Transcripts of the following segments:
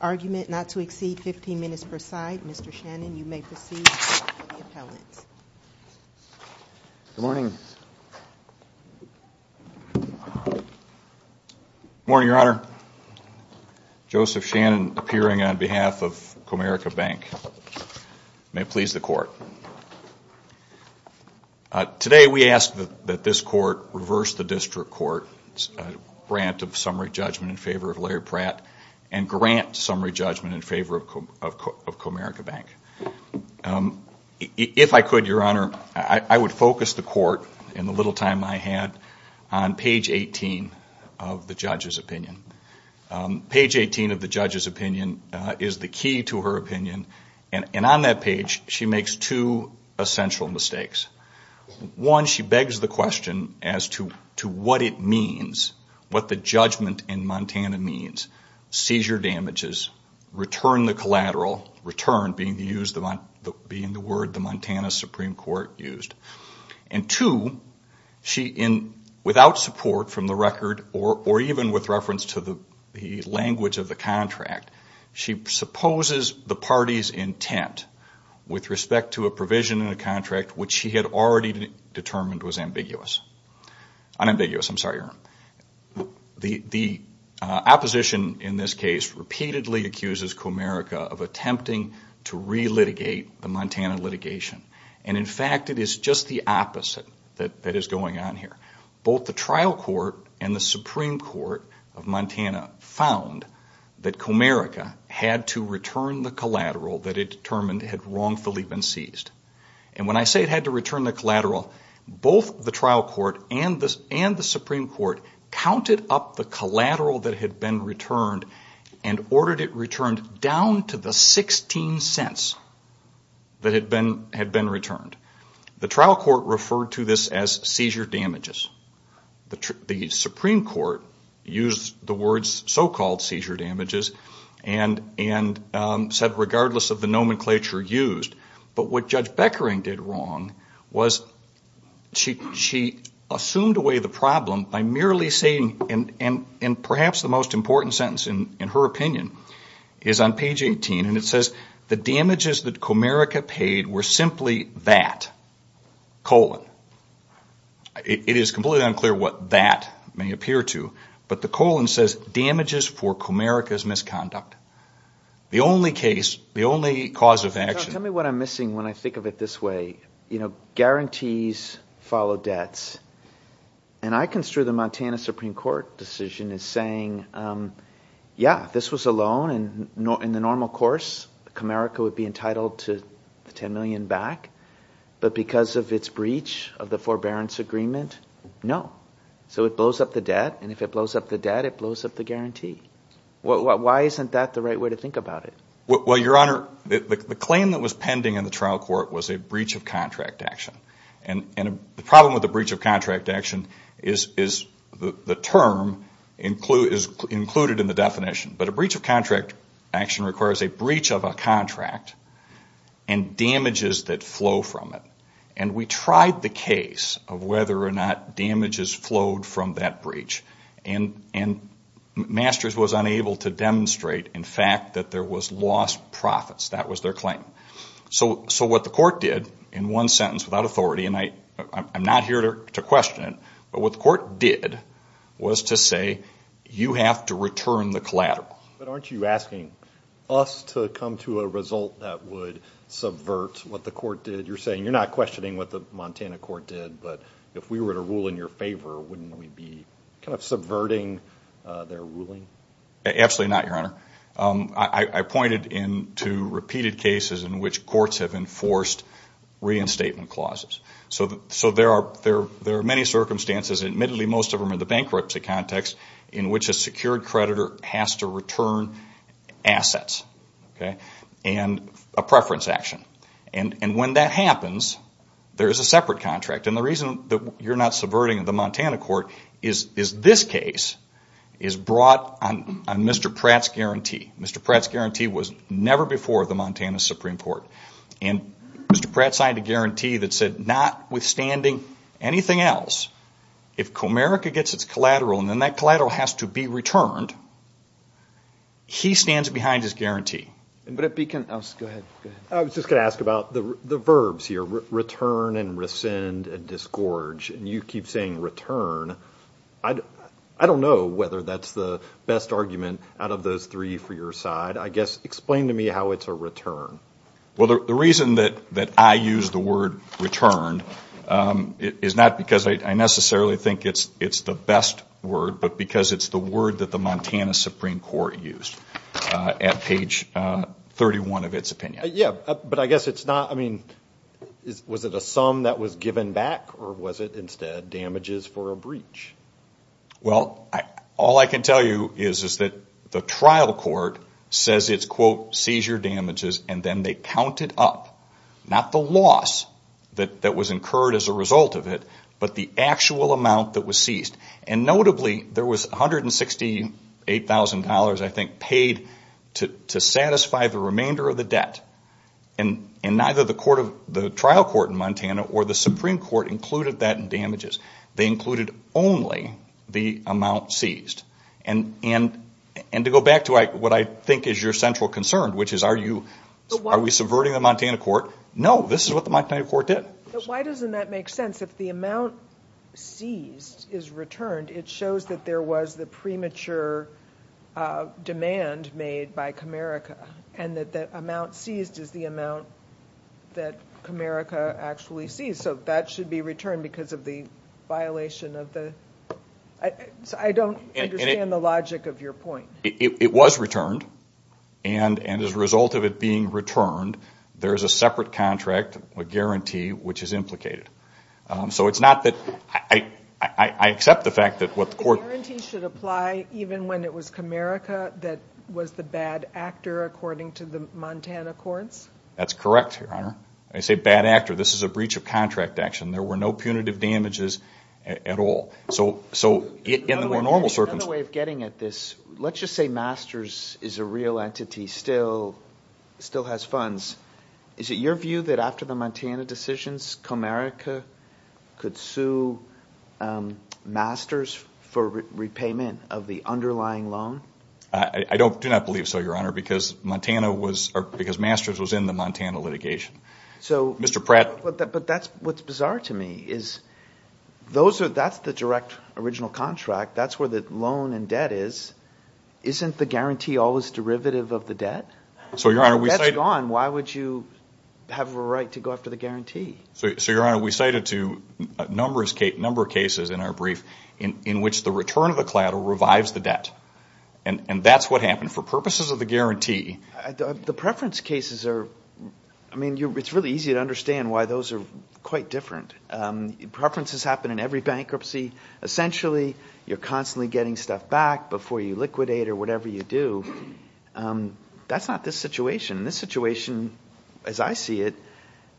Argument not to exceed 15 minutes per side. Mr. Shannon, you may proceed with the appellant. Good morning. Good morning, Your Honor. Joseph Shannon, appearing on behalf of Comerica Bank. May it please the Court. Today we ask that this Court reverse the District Court's grant of summary judgment in favor of Larry Pratt and grant summary judgment in favor of Comerica Bank. If I could, Your Honor, I would focus the Court, in the little time I had, on page 18 of the judge's opinion. Page 18 of the judge's opinion is the key to her opinion, and on that page she makes two statements. Two essential mistakes. One, she begs the question as to what it means, what the judgment in Montana means. Seizure damages, return the collateral, return being the word the Montana Supreme Court used. And two, without support from the record or even with reference to the language of the contract, she supposes the party's intent with respect to a provision in the contract, which she had already determined was ambiguous. Unambiguous, I'm sorry, Your Honor. The opposition in this case repeatedly accuses Comerica of attempting to re-litigate the Montana litigation. And in fact, it is just the opposite that is going on here. Both the trial court and the Supreme Court of Montana found that Comerica had to return the collateral that it determined was ambiguous. And it had wrongfully been seized. And when I say it had to return the collateral, both the trial court and the Supreme Court counted up the collateral that had been returned and ordered it returned down to the 16 cents that had been returned. The trial court referred to this as seizure damages. The Supreme Court used the words so-called seizure damages and said, regardless of the nomenclature, they were used. But what Judge Beckering did wrong was she assumed away the problem by merely saying, and perhaps the most important sentence in her opinion, is on page 18, and it says, the damages that Comerica paid were simply that, colon. It is completely unclear what that may appear to, but the colon says damages for Comerica's misconduct. The only case, the only cause of action. Tell me what I'm missing when I think of it this way. Guarantees follow debts. And I construe the Montana Supreme Court decision as saying, yeah, this was a loan, and in the normal course, Comerica would be entitled to the $10 million back. But because of its breach of the forbearance agreement, no. So it blows up the debt, and if it blows up the debt, it blows up the guarantee. Why isn't that the right way to think about it? Well, Your Honor, the claim that was pending in the trial court was a breach of contract action. And the problem with a breach of contract action is the term is included in the definition. But a breach of contract action requires a breach of a contract and damages that flow from it. And we tried the case of whether or not damages flowed from that breach. And Masters was unable to demonstrate, in fact, that there was lost profits. That was their claim. So what the court did in one sentence without authority, and I'm not here to question it, but what the court did was to say, you have to return the collateral. But aren't you asking us to come to a result that would subvert what the court did? You're saying you're not questioning what the Montana court did, but if we were to rule in your favor, wouldn't we be kind of subverting their ruling? Absolutely not, Your Honor. I pointed to repeated cases in which courts have enforced reinstatement clauses. So there are many circumstances, admittedly most of them in the bankruptcy context, in which a secured creditor has to return assets and a preference action. And when that happens, there is a separate contract. And the reason that you're not subverting the Montana court is this case is brought on Mr. Pratt's guarantee. Mr. Pratt's guarantee was never before the Montana Supreme Court. And Mr. Pratt signed a guarantee that said, notwithstanding anything else, if Comerica gets its collateral and then that collateral has to be returned, he stands behind his guarantee. I was just going to ask about the verbs here, return and rescind and disgorge. And you keep saying return. I don't know whether that's the best argument out of those three for your side. I guess explain to me how it's a return. Well, the reason that I use the word return is not because I necessarily think it's the best word, but because it's the word that the Montana Supreme Court used at page 31 of its opinion. Yeah, but I guess it's not, I mean, was it a sum that was given back or was it instead damages for a breach? Well, all I can tell you is that the trial court says it's, quote, seizure damages and then they counted up, not the loss that was incurred as a result of it, but the actual amount that was seized. And notably there was $168,000, I think, paid to satisfy the remainder of the debt. And neither the trial court in Montana or the Supreme Court included that in damages. They included only the amount seized. And to go back to what I think is your central concern, which is are we subverting the Montana court? No, this is what the Montana court did. But why doesn't that make sense? If the amount seized is returned, it shows that there was the premature demand made by Comerica and that the amount seized is the amount that Comerica actually seized. So that should be returned because of the violation of the, I don't understand the logic of your point. It was returned and as a result of it being returned, there is a separate contract, a guarantee, which is implicated. So it's not that, I accept the fact that what the court... The guarantee should apply even when it was Comerica that was the bad actor according to the Montana courts? That's correct, Your Honor. I say bad actor. This is a breach of contract action. There were no punitive damages at all. Another way of getting at this, let's just say Masters is a real entity, still has funds. Is it your view that after the Montana decisions, Comerica could sue Masters for repayment of the underlying loan? I do not believe so, Your Honor, because Masters was in the Montana litigation. But what's bizarre to me is that's the direct original contract. That's where the loan and debt is. Isn't the guarantee always derivative of the debt? So, Your Honor, we cited to a number of cases in our brief in which the return of the collateral revives the debt. And that's what happened. It's really easy to understand why those are quite different. Preferences happen in every bankruptcy. Essentially, you're constantly getting stuff back before you liquidate or whatever you do. That's not this situation. This situation, as I see it,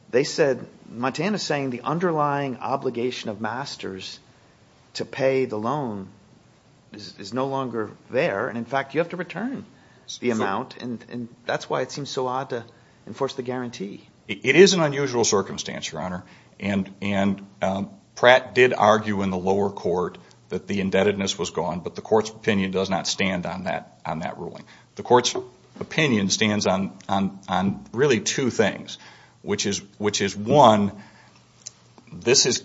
they said Montana saying the underlying obligation of Masters to pay the loan is no longer there. And in fact, you have to return the amount. And that's why it seems so odd to enforce the guarantee. It is an unusual circumstance, Your Honor. And Pratt did argue in the lower court that the indebtedness was gone. But the court's opinion does not stand on that ruling. The court's opinion stands on really two things. Which is, one, this is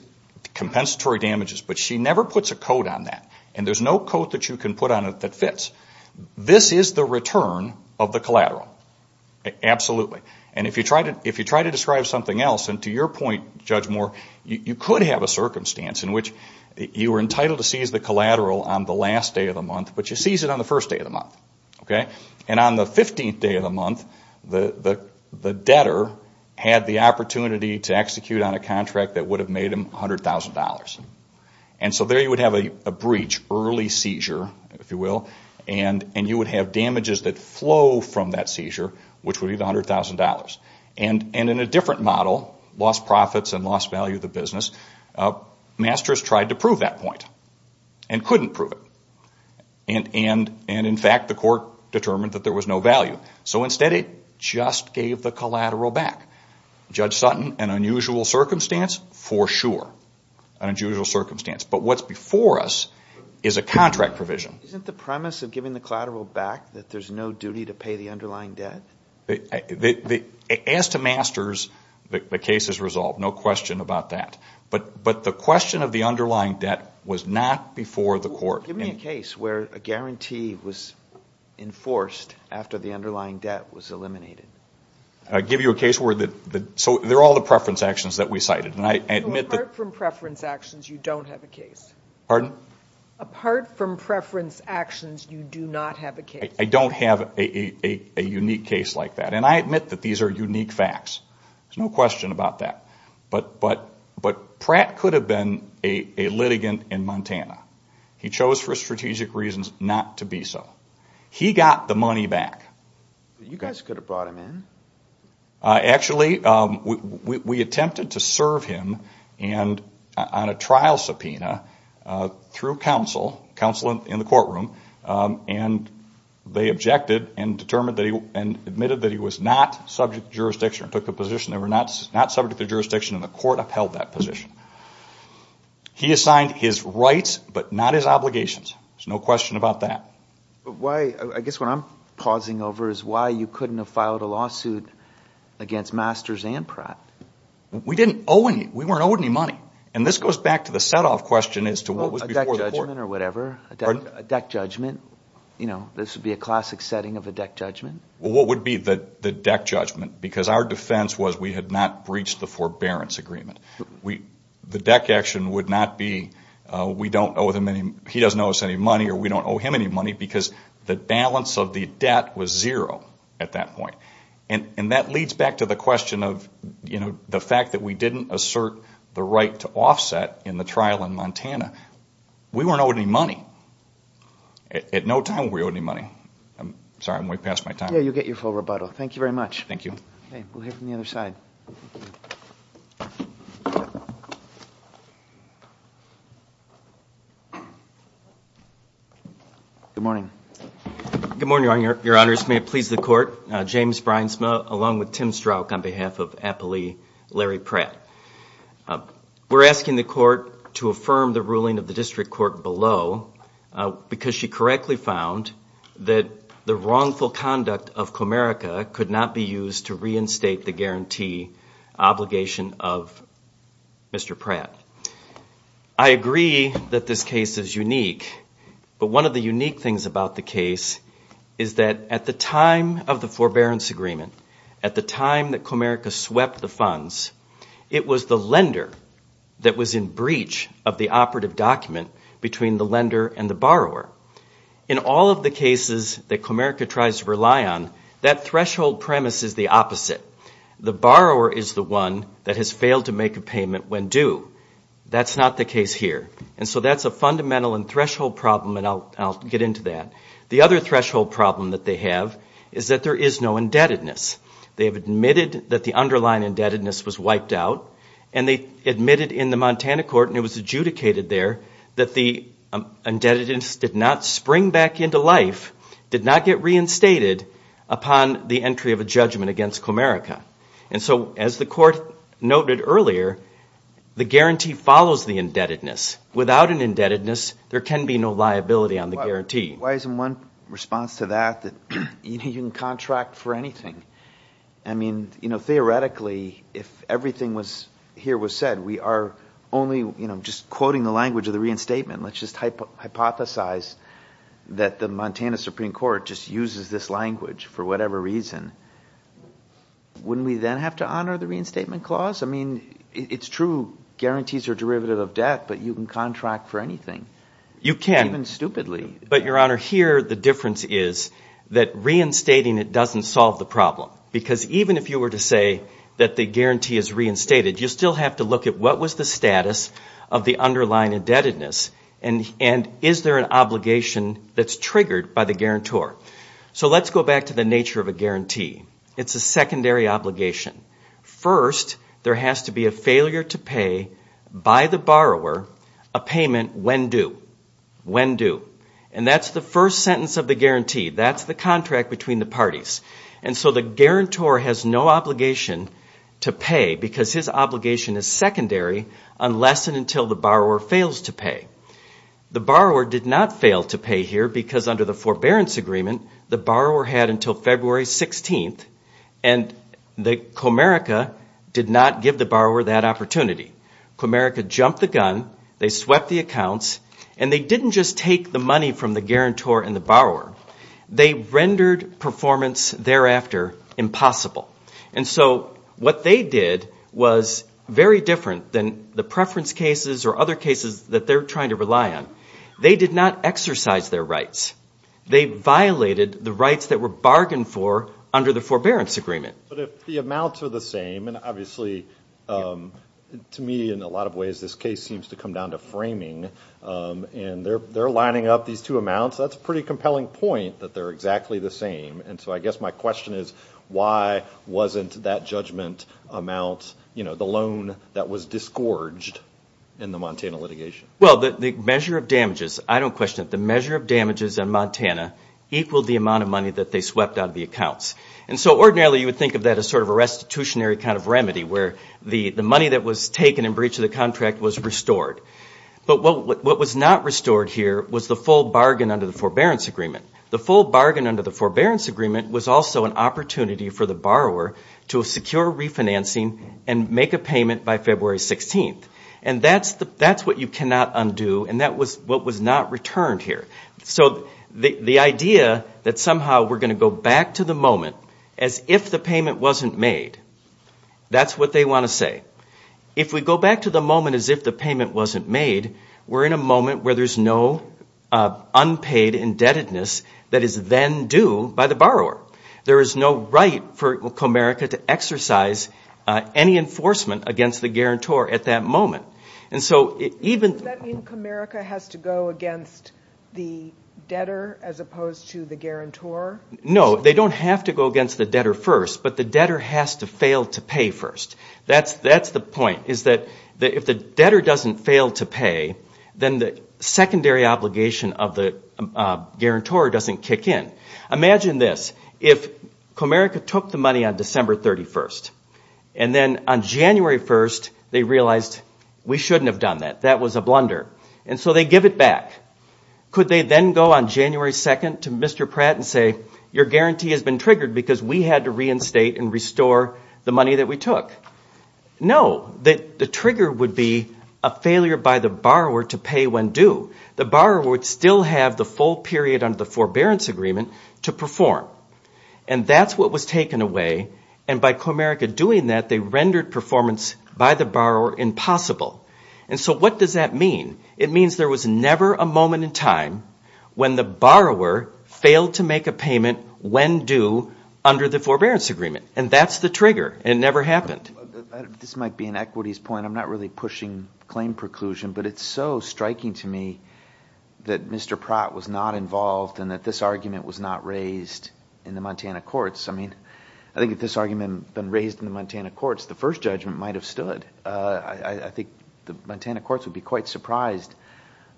compensatory damages. But she never puts a code on that. And there's no code that you can put on it that fits. This is the return of the collateral. Absolutely. And if you try to describe something else, and to your point, Judge Moore, you could have a circumstance in which you were entitled to seize the collateral on the last day of the month, but you seized it on the first day of the month. And on the 15th day of the month, the debtor had the opportunity to execute on a contract that would have made him $100,000. And so there you would have a breach, early seizure, if you will. And you would have damages that flow from that seizure, which would be the $100,000. And in a different model, lost profits and lost value of the business, Masters tried to prove that point and couldn't prove it. And in fact, the court determined that there was no value. So instead it just gave the collateral back. Judge Sutton, an unusual circumstance, for sure. But what's before us is a contract provision. Isn't the premise of giving the collateral back that there's no duty to pay the underlying debt? As to Masters, the case is resolved. No question about that. But the question of the underlying debt was not before the court. Give me a case where a guarantee was enforced after the underlying debt was eliminated. So they're all the preference actions that we cited. Apart from preference actions, you don't have a case. I don't have a unique case like that. And I admit that these are unique facts. There's no question about that. But Pratt could have been a litigant in Montana. He chose for strategic reasons not to be so. He got the money back. Actually, we attempted to serve him on a trial subpoena through counsel in the courtroom. And they objected and admitted that he was not subject to jurisdiction and took a position. They were not subject to jurisdiction and the court upheld that position. He assigned his rights but not his obligations. There's no question about that. I guess what I'm pausing over is why you couldn't have filed a lawsuit against Masters and Pratt. We didn't owe any. We weren't owed any money. And this goes back to the set-off question as to what was before the court. A deck judgment. This would be a classic setting of a deck judgment. What would be the deck judgment? Because our defense was we had not breached the forbearance agreement. The deck action would not be, he doesn't owe us any money or we don't owe him any money. Because the balance of the debt was zero at that point. And that leads back to the question of the fact that we didn't assert the right to offset in the trial in Montana. We weren't owed any money. At no time were we owed any money. I'm sorry, I'm way past my time. Good morning. Good morning, your honors. May it please the court. We're asking the court to affirm the ruling of the district court below because she correctly found that the wrongful conduct of Comerica could not be used to reinstate the guarantee obligation of Mr. Pratt. I agree that this case is unique, but one of the unique things about the case is that at the time of the forbearance agreement, at the time that Comerica swept the funds, it was the lender that was in breach of the operative document between the lender and the borrower. In all of the cases that Comerica tries to rely on, that threshold premise is the opposite. The borrower is the one that has failed to make a payment when due. That's not the case here. And so that's a fundamental and threshold problem, and I'll get into that. The other threshold problem that they have is that there is no indebtedness. They have admitted that the underlying indebtedness was wiped out, and they admitted in the Montana court, and it was adjudicated there, that the indebtedness did not spring back into life, did not get reinstated upon the entry of a judgment against Comerica. And so as the court noted earlier, the guarantee follows the indebtedness. Without an indebtedness, there can be no liability on the guarantee. Why isn't one response to that that you can contract for anything? I mean, theoretically, if everything here was said, we are only just quoting the language of the reinstatement. Let's just hypothesize that the Montana Supreme Court just uses this language for whatever reason. Wouldn't we then have to honor the reinstatement clause? I mean, it's true, guarantees are derivative of debt, but you can contract for anything, even stupidly. But, Your Honor, here the difference is that reinstating it doesn't solve the problem. Because even if you were to say that the guarantee is reinstated, you still have to look at what was the status of the underlying indebtedness, and is there an obligation that's triggered by the guarantor. So let's go back to the nature of a guarantee. It's a secondary obligation. First, there has to be a failure to pay by the borrower a payment when due. And that's the first sentence of the guarantee. That's the contract between the parties. And so the guarantor has no obligation to pay because his obligation is secondary unless and until the borrower fails to pay. The borrower did not fail to pay here because under the forbearance agreement, the borrower had until February 16th, and Comerica did not give the borrower that opportunity. Comerica jumped the gun, they swept the accounts, and they didn't just take the money from the guarantor and the borrower. They rendered performance thereafter impossible. And so what they did was very different than the preference cases or other cases that they're trying to rely on. They did not exercise their rights. They violated the rights that were bargained for under the forbearance agreement. But if the amounts are the same, and obviously to me in a lot of ways this case seems to come down to framing, and they're lining up these two amounts, that's a pretty compelling point that they're exactly the same. And so I guess my question is why wasn't that judgment amount, you know, the loan that was disgorged in the Montana litigation? Well, the measure of damages, I don't question it, the measure of damages in Montana equaled the amount of money that they swept out of the accounts. And so ordinarily you would think of that as sort of a restitutionary kind of remedy, where the money that was taken in breach of the contract was restored. But what was not restored here was the full bargain under the forbearance agreement. The full bargain under the forbearance agreement was also an opportunity for the borrower to secure refinancing and make a payment by February 16th. And that's what you cannot undo, and that was what was not returned here. So the idea that somehow we're going to go back to the moment as if the payment wasn't made, that's what they want to say. If we go back to the moment as if the payment wasn't made, we're in a moment where there's no unpaid indebtedness that is then due by the borrower. There is no right for Comerica to exercise any enforcement against the guarantor at that moment. And so even... Does that mean Comerica has to go against the debtor as opposed to the guarantor? No, they don't have to go against the debtor first, but the debtor has to fail to pay first. That's the point, is that if the debtor doesn't fail to pay, then the secondary obligation of the guarantor doesn't kick in. Imagine this, if Comerica took the money on December 31st, and then on January 1st they realized, we shouldn't have done that, that was a blunder, and so they give it back. Could they then go on January 2nd to Mr. Pratt and say, your guarantee has been triggered because we had to reinstate and restore the money that we took? No, the trigger would be a failure by the borrower to pay when due. The borrower would still have the full period under the forbearance agreement to perform. And that's what was taken away, and by Comerica doing that, they rendered performance by the borrower impossible. And so what does that mean? It means there was never a moment in time when the borrower failed to make a payment when due under the forbearance agreement, and that's the trigger. It never happened. This might be an equities point, I'm not really pushing claim preclusion, but it's so striking to me that Mr. Pratt was not involved and that this argument was not raised in the Montana courts. I mean, I think if this argument had been raised in the Montana courts, the first judgment might have stood. I think the Montana courts would be quite surprised.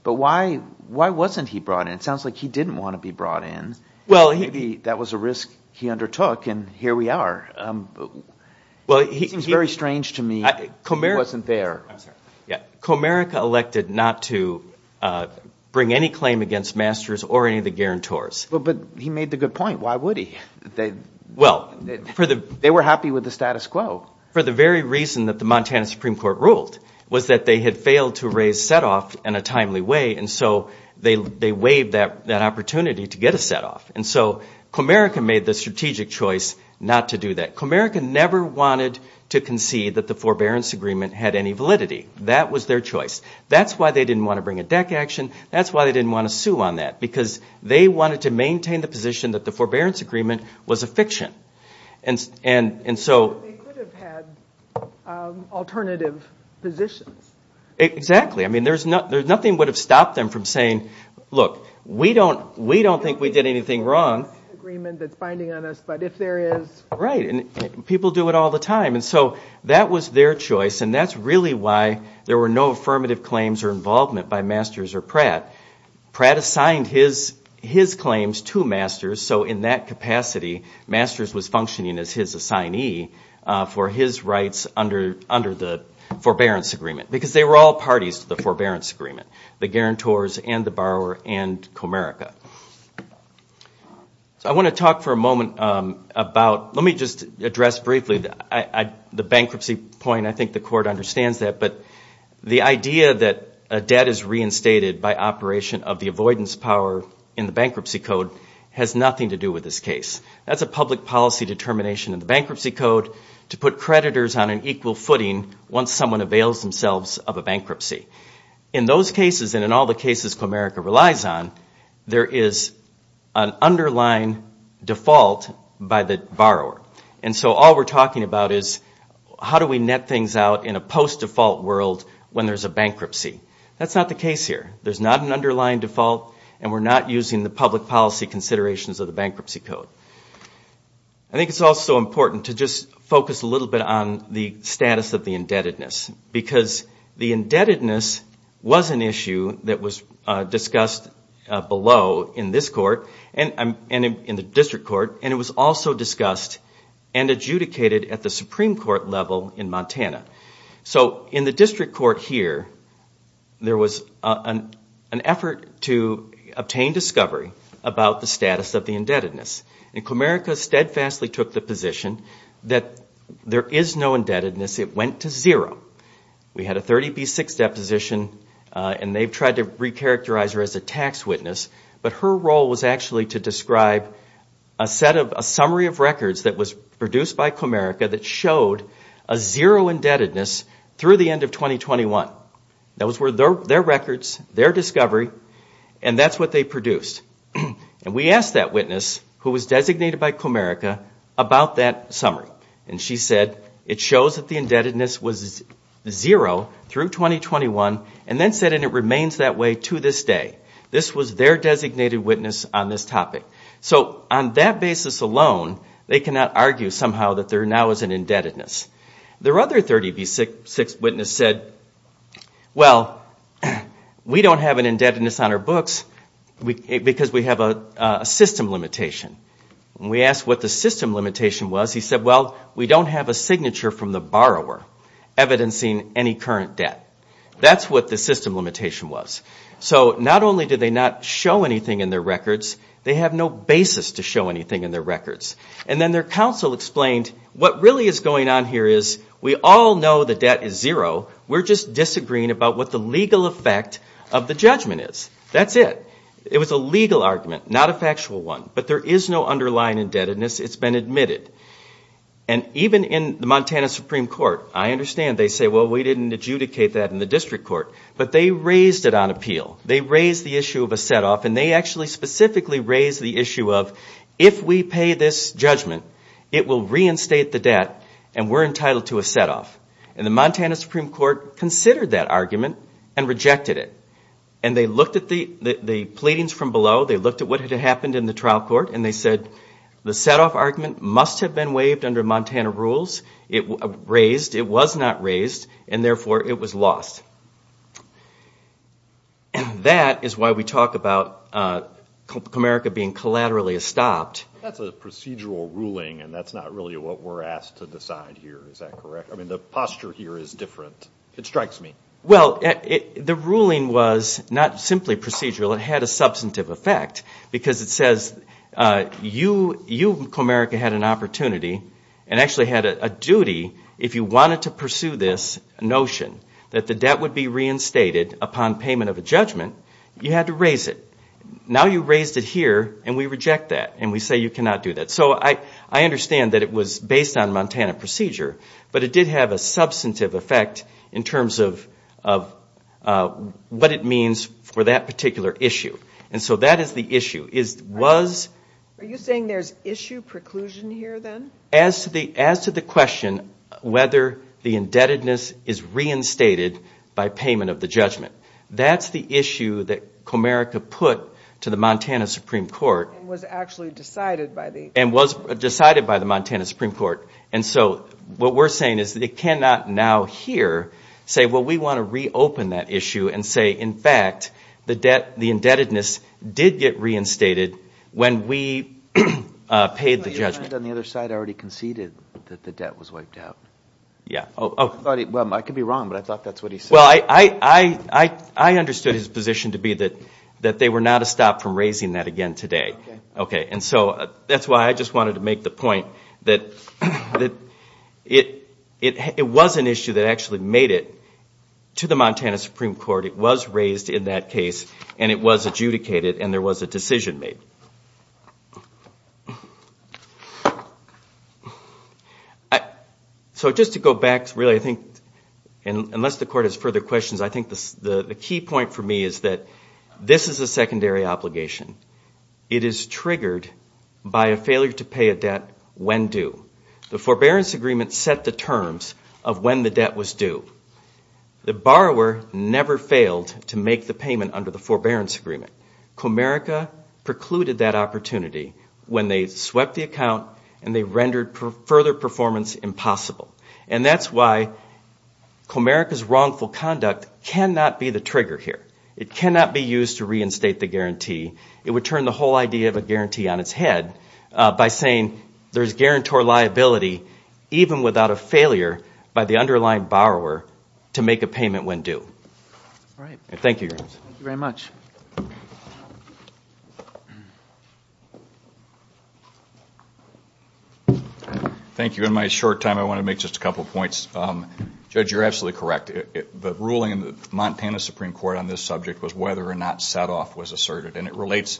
But why wasn't he brought in? It sounds like he didn't want to be brought in. Maybe that was a risk he undertook, and here we are. It seems very strange to me he wasn't there. Comerica elected not to bring any claim against Masters or any of the guarantors. But he made the good point, why would he? They were happy with the status quo. For the very reason that the Montana Supreme Court ruled, was that they had failed to raise setoff in a timely way, and so they waived that opportunity to get a setoff. And so Comerica made the strategic choice not to do that. Comerica never wanted to concede that the forbearance agreement had any validity. That was their choice. That's why they didn't want to bring a deck action. That's why they didn't want to sue on that. Because they wanted to maintain the position that the forbearance agreement was a fiction. And so... That's why there were no affirmative claims or involvement by Masters or Pratt. Pratt assigned his claims to Masters, so in that capacity, Masters was functioning as his assignee for his rights under the forbearance agreement. Because they were all parties to the forbearance agreement, the guarantors and the borrower and Comerica. So I want to talk for a moment about... Let me just address briefly the bankruptcy point. I think the court understands that, but the idea that a debt is reinstated by operation of the avoidance power in the bankruptcy code has nothing to do with this case. That's a public policy determination in the bankruptcy code to put creditors on an equal footing once someone avails themselves of a bankruptcy. In those cases, and in all the cases Comerica relies on, there is an underlying default by the borrower. And so all we're talking about is how do we net things out in a post-default world when there's a bankruptcy. That's not the case here. There's not an underlying default, and we're not using the public policy considerations of the bankruptcy code. I think it's also important to just focus a little bit on the status of the indebtedness. Because the indebtedness was an issue that was discussed below in this court and in the district court, and it was also discussed and adjudicated at the Supreme Court level in Montana. So in the district court here, there was an effort to obtain discovery about the status of the indebtedness. And Comerica steadfastly took the position that there is no indebtedness. It went to zero. We had a 30B6 deposition, and they've tried to recharacterize her as a tax witness, but her role was actually to describe a summary of records that was produced by Comerica that showed a zero indebtedness through the end of 2021. Those were their records, their discovery, and that's what they produced. And we asked that witness, who was designated by Comerica, about that summary. And she said, it shows that the indebtedness was zero through 2021, and then said, and it remains that way to this day. This was their designated witness on this topic. So on that basis alone, they cannot argue somehow that there now is an indebtedness. Their other 30B6 witness said, well, we don't have an indebtedness on our books because we have a system limitation. When we asked what the system limitation was, he said, well, we don't have a signature from the borrower evidencing any current debt. That's what the system limitation was. So not only did they not show anything in their records, they have no basis to show anything in their records. And then their counsel explained, what really is going on here is we all know the debt is zero, we're just disagreeing about what the legal effect of the judgment is. That's it. It was a legal argument, not a factual one, but there is no underlying indebtedness. It's been admitted. And even in the Montana Supreme Court, I understand, they say, well, we didn't adjudicate that in the district court, but they raised it on appeal. They raised the issue of a set-off, and they actually specifically raised the issue of, if we pay this judgment, it will reinstate the debt, and we're entitled to a set-off. And the Montana Supreme Court considered that argument and rejected it. And they looked at the pleadings from below, they looked at what had happened in the trial court, and they said, the set-off argument must have been waived under Montana rules. It was raised, it was not raised, and therefore it was lost. And that is why we talk about Comerica being collaterally stopped. That's a procedural ruling, and that's not really what we're asked to decide here, is that correct? I mean, the posture here is different. It strikes me. Well, the ruling was not simply procedural, it had a substantive effect, because it says, you, Comerica, had an opportunity, and actually had a duty, if you wanted to pursue this notion, that the debt would be reinstated upon payment of a judgment, you had to raise it. Now you raised it here, and we reject that, and we say you cannot do that. So I understand that it was based on Montana procedure, but it did have a substantive effect in terms of what it means for that particular issue. And so that is the issue, was... Are you saying there's issue preclusion here, then? As to the question whether the indebtedness is reinstated by payment of the judgment. That's the issue that Comerica put to the Montana Supreme Court. And was decided by the Montana Supreme Court. And so what we're saying is that it cannot now here say, well, we want to reopen that issue and say, in fact, the indebtedness did get reinstated when we paid the judgment. And on the other side, already conceded that the debt was wiped out. I could be wrong, but I thought that's what he said. I understood his position to be that they were not a stop from raising that again today. And so that's why I just wanted to make the point that it was an issue that actually made it to the Montana Supreme Court. It was raised in that case, and it was adjudicated, and there was a decision made. So just to go back, really, I think, unless the Court has further questions, I think the key point for me is that this is a secondary obligation. It is triggered by a failure to pay a debt when due. The forbearance agreement set the terms of when the debt was due. The borrower never failed to make the payment under the forbearance agreement. Comerica precluded that opportunity when they swept the account and they rendered further performance impossible. And that's why Comerica's wrongful conduct cannot be the trigger here. It cannot be used to reinstate the guarantee. It would turn the whole idea of a guarantee on its head by saying there's guarantor liability even without a failure by the underlying borrower to make a payment when due. Thank you. Thank you. In my short time, I want to make just a couple of points. Judge, you're absolutely correct. The ruling in the Montana Supreme Court on this subject was whether or not set off was asserted. And it relates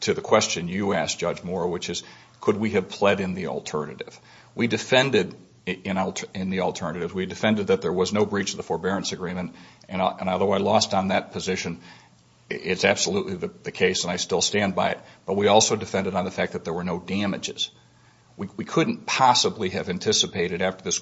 to the question you asked, Judge Moore, which is could we have pled in the alternative? We defended in the alternative. We defended that there was no breach of the forbearance agreement. And although I lost on that position, it's absolutely the case and I still stand by it. But we also defended on the fact that there were no damages. We couldn't possibly have anticipated after this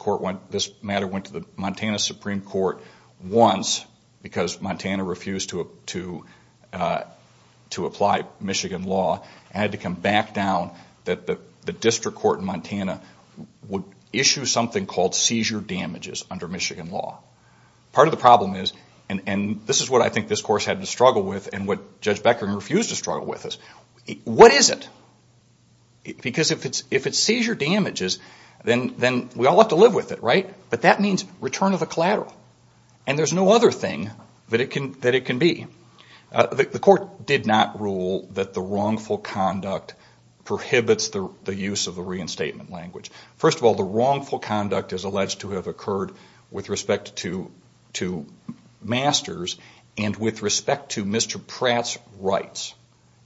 matter went to the Montana Supreme Court once because Montana refused to apply Michigan law. It had to come back down that the district court in Montana would issue something called seizure damages under Michigan law. Part of the problem is, and this is what I think this Court's had to struggle with and what Judge Becker refused to struggle with is, what is it? Because if it's seizure damages, then we all have to live with it, right? But that means return of the collateral. And there's no other thing that it can be. The Court did not rule that the wrongful conduct prohibits the use of the reinstatement language. First of all, the wrongful conduct is alleged to have occurred with respect to Masters and with respect to Mr. Pratt's rights.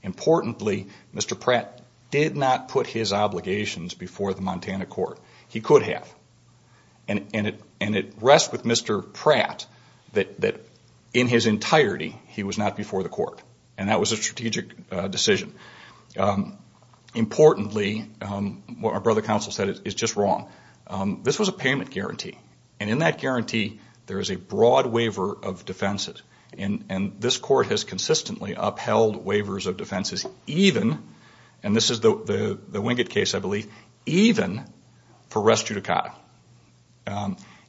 Importantly, Mr. Pratt did not put his obligations before the Montana court. He could have. And it rests with Mr. Pratt that in his entirety, he was not before the court. And that was a strategic decision. Importantly, what my brother counsel said is just wrong. This was a payment guarantee. And in that guarantee, there is a broad waiver of defenses. And this Court has consistently upheld waivers of defenses even, and this is the Wingate case, I believe, even for res judicata.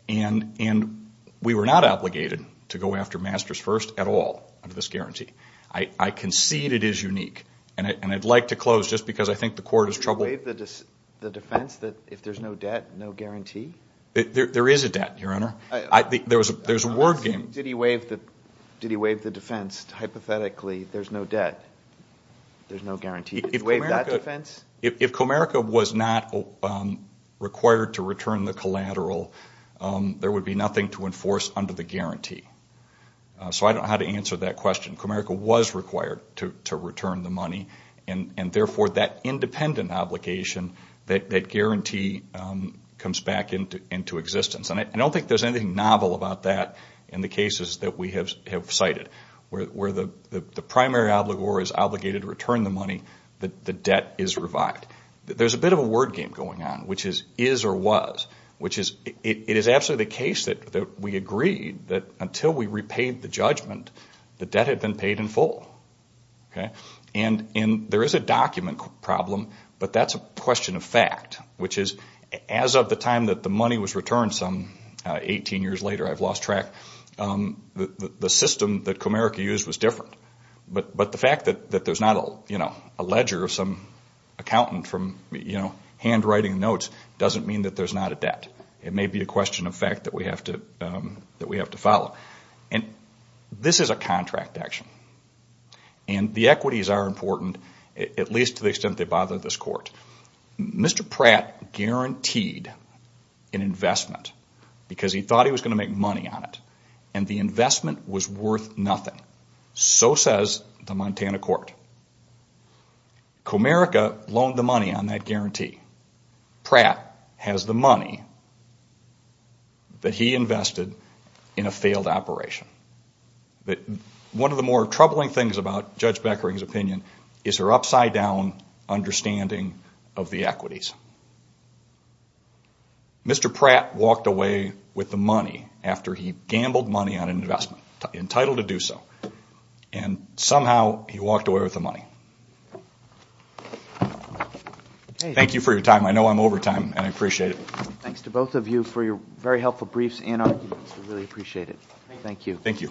And we were not obligated to go after Masters first at all under this guarantee. I concede it is unique. And I'd like to close just because I think the Court is troubled. Did he waive the defense that if there's no debt, no guarantee? There is a debt, Your Honor. Did he waive the defense, hypothetically, there's no debt, there's no guarantee? If Comerica was not required to return the collateral, there would be nothing to enforce under the guarantee. So I don't know how to answer that question. Comerica was required to return the money. And therefore, that independent obligation, that guarantee comes back into existence. And I don't think there's anything novel about that in the cases that we have cited. Where the primary obligor is obligated to return the money, the debt is revived. There's a bit of a word game going on, which is, is or was. It is absolutely the case that we agreed that until we repaid the judgment, the debt had been paid in full. And there is a document problem, but that's a question of fact. Which is, as of the time that the money was returned some 18 years later, I've lost track, the system that Comerica used was different. But the fact that there's not a ledger of some accountant from, you know, handwriting notes, doesn't mean that there's not a debt. It may be a question of fact that we have to follow. And this is a contract action. And the equities are important, at least to the extent they bother this court. Mr. Pratt guaranteed an investment because he thought he was going to make money on it. And the investment was worth nothing. So says the Montana court. Comerica loaned the money on that guarantee. Pratt has the money that he invested in a failed operation. But one of the more troubling things about Judge Beckering's opinion is her upside down understanding of the equities. Mr. Pratt walked away with the money after he gambled money on an investment. Entitled to do so. And somehow he walked away with the money. Thank you for your time. I know I'm over time and I appreciate it. Thanks to both of you for your very helpful briefs and arguments. We really appreciate it.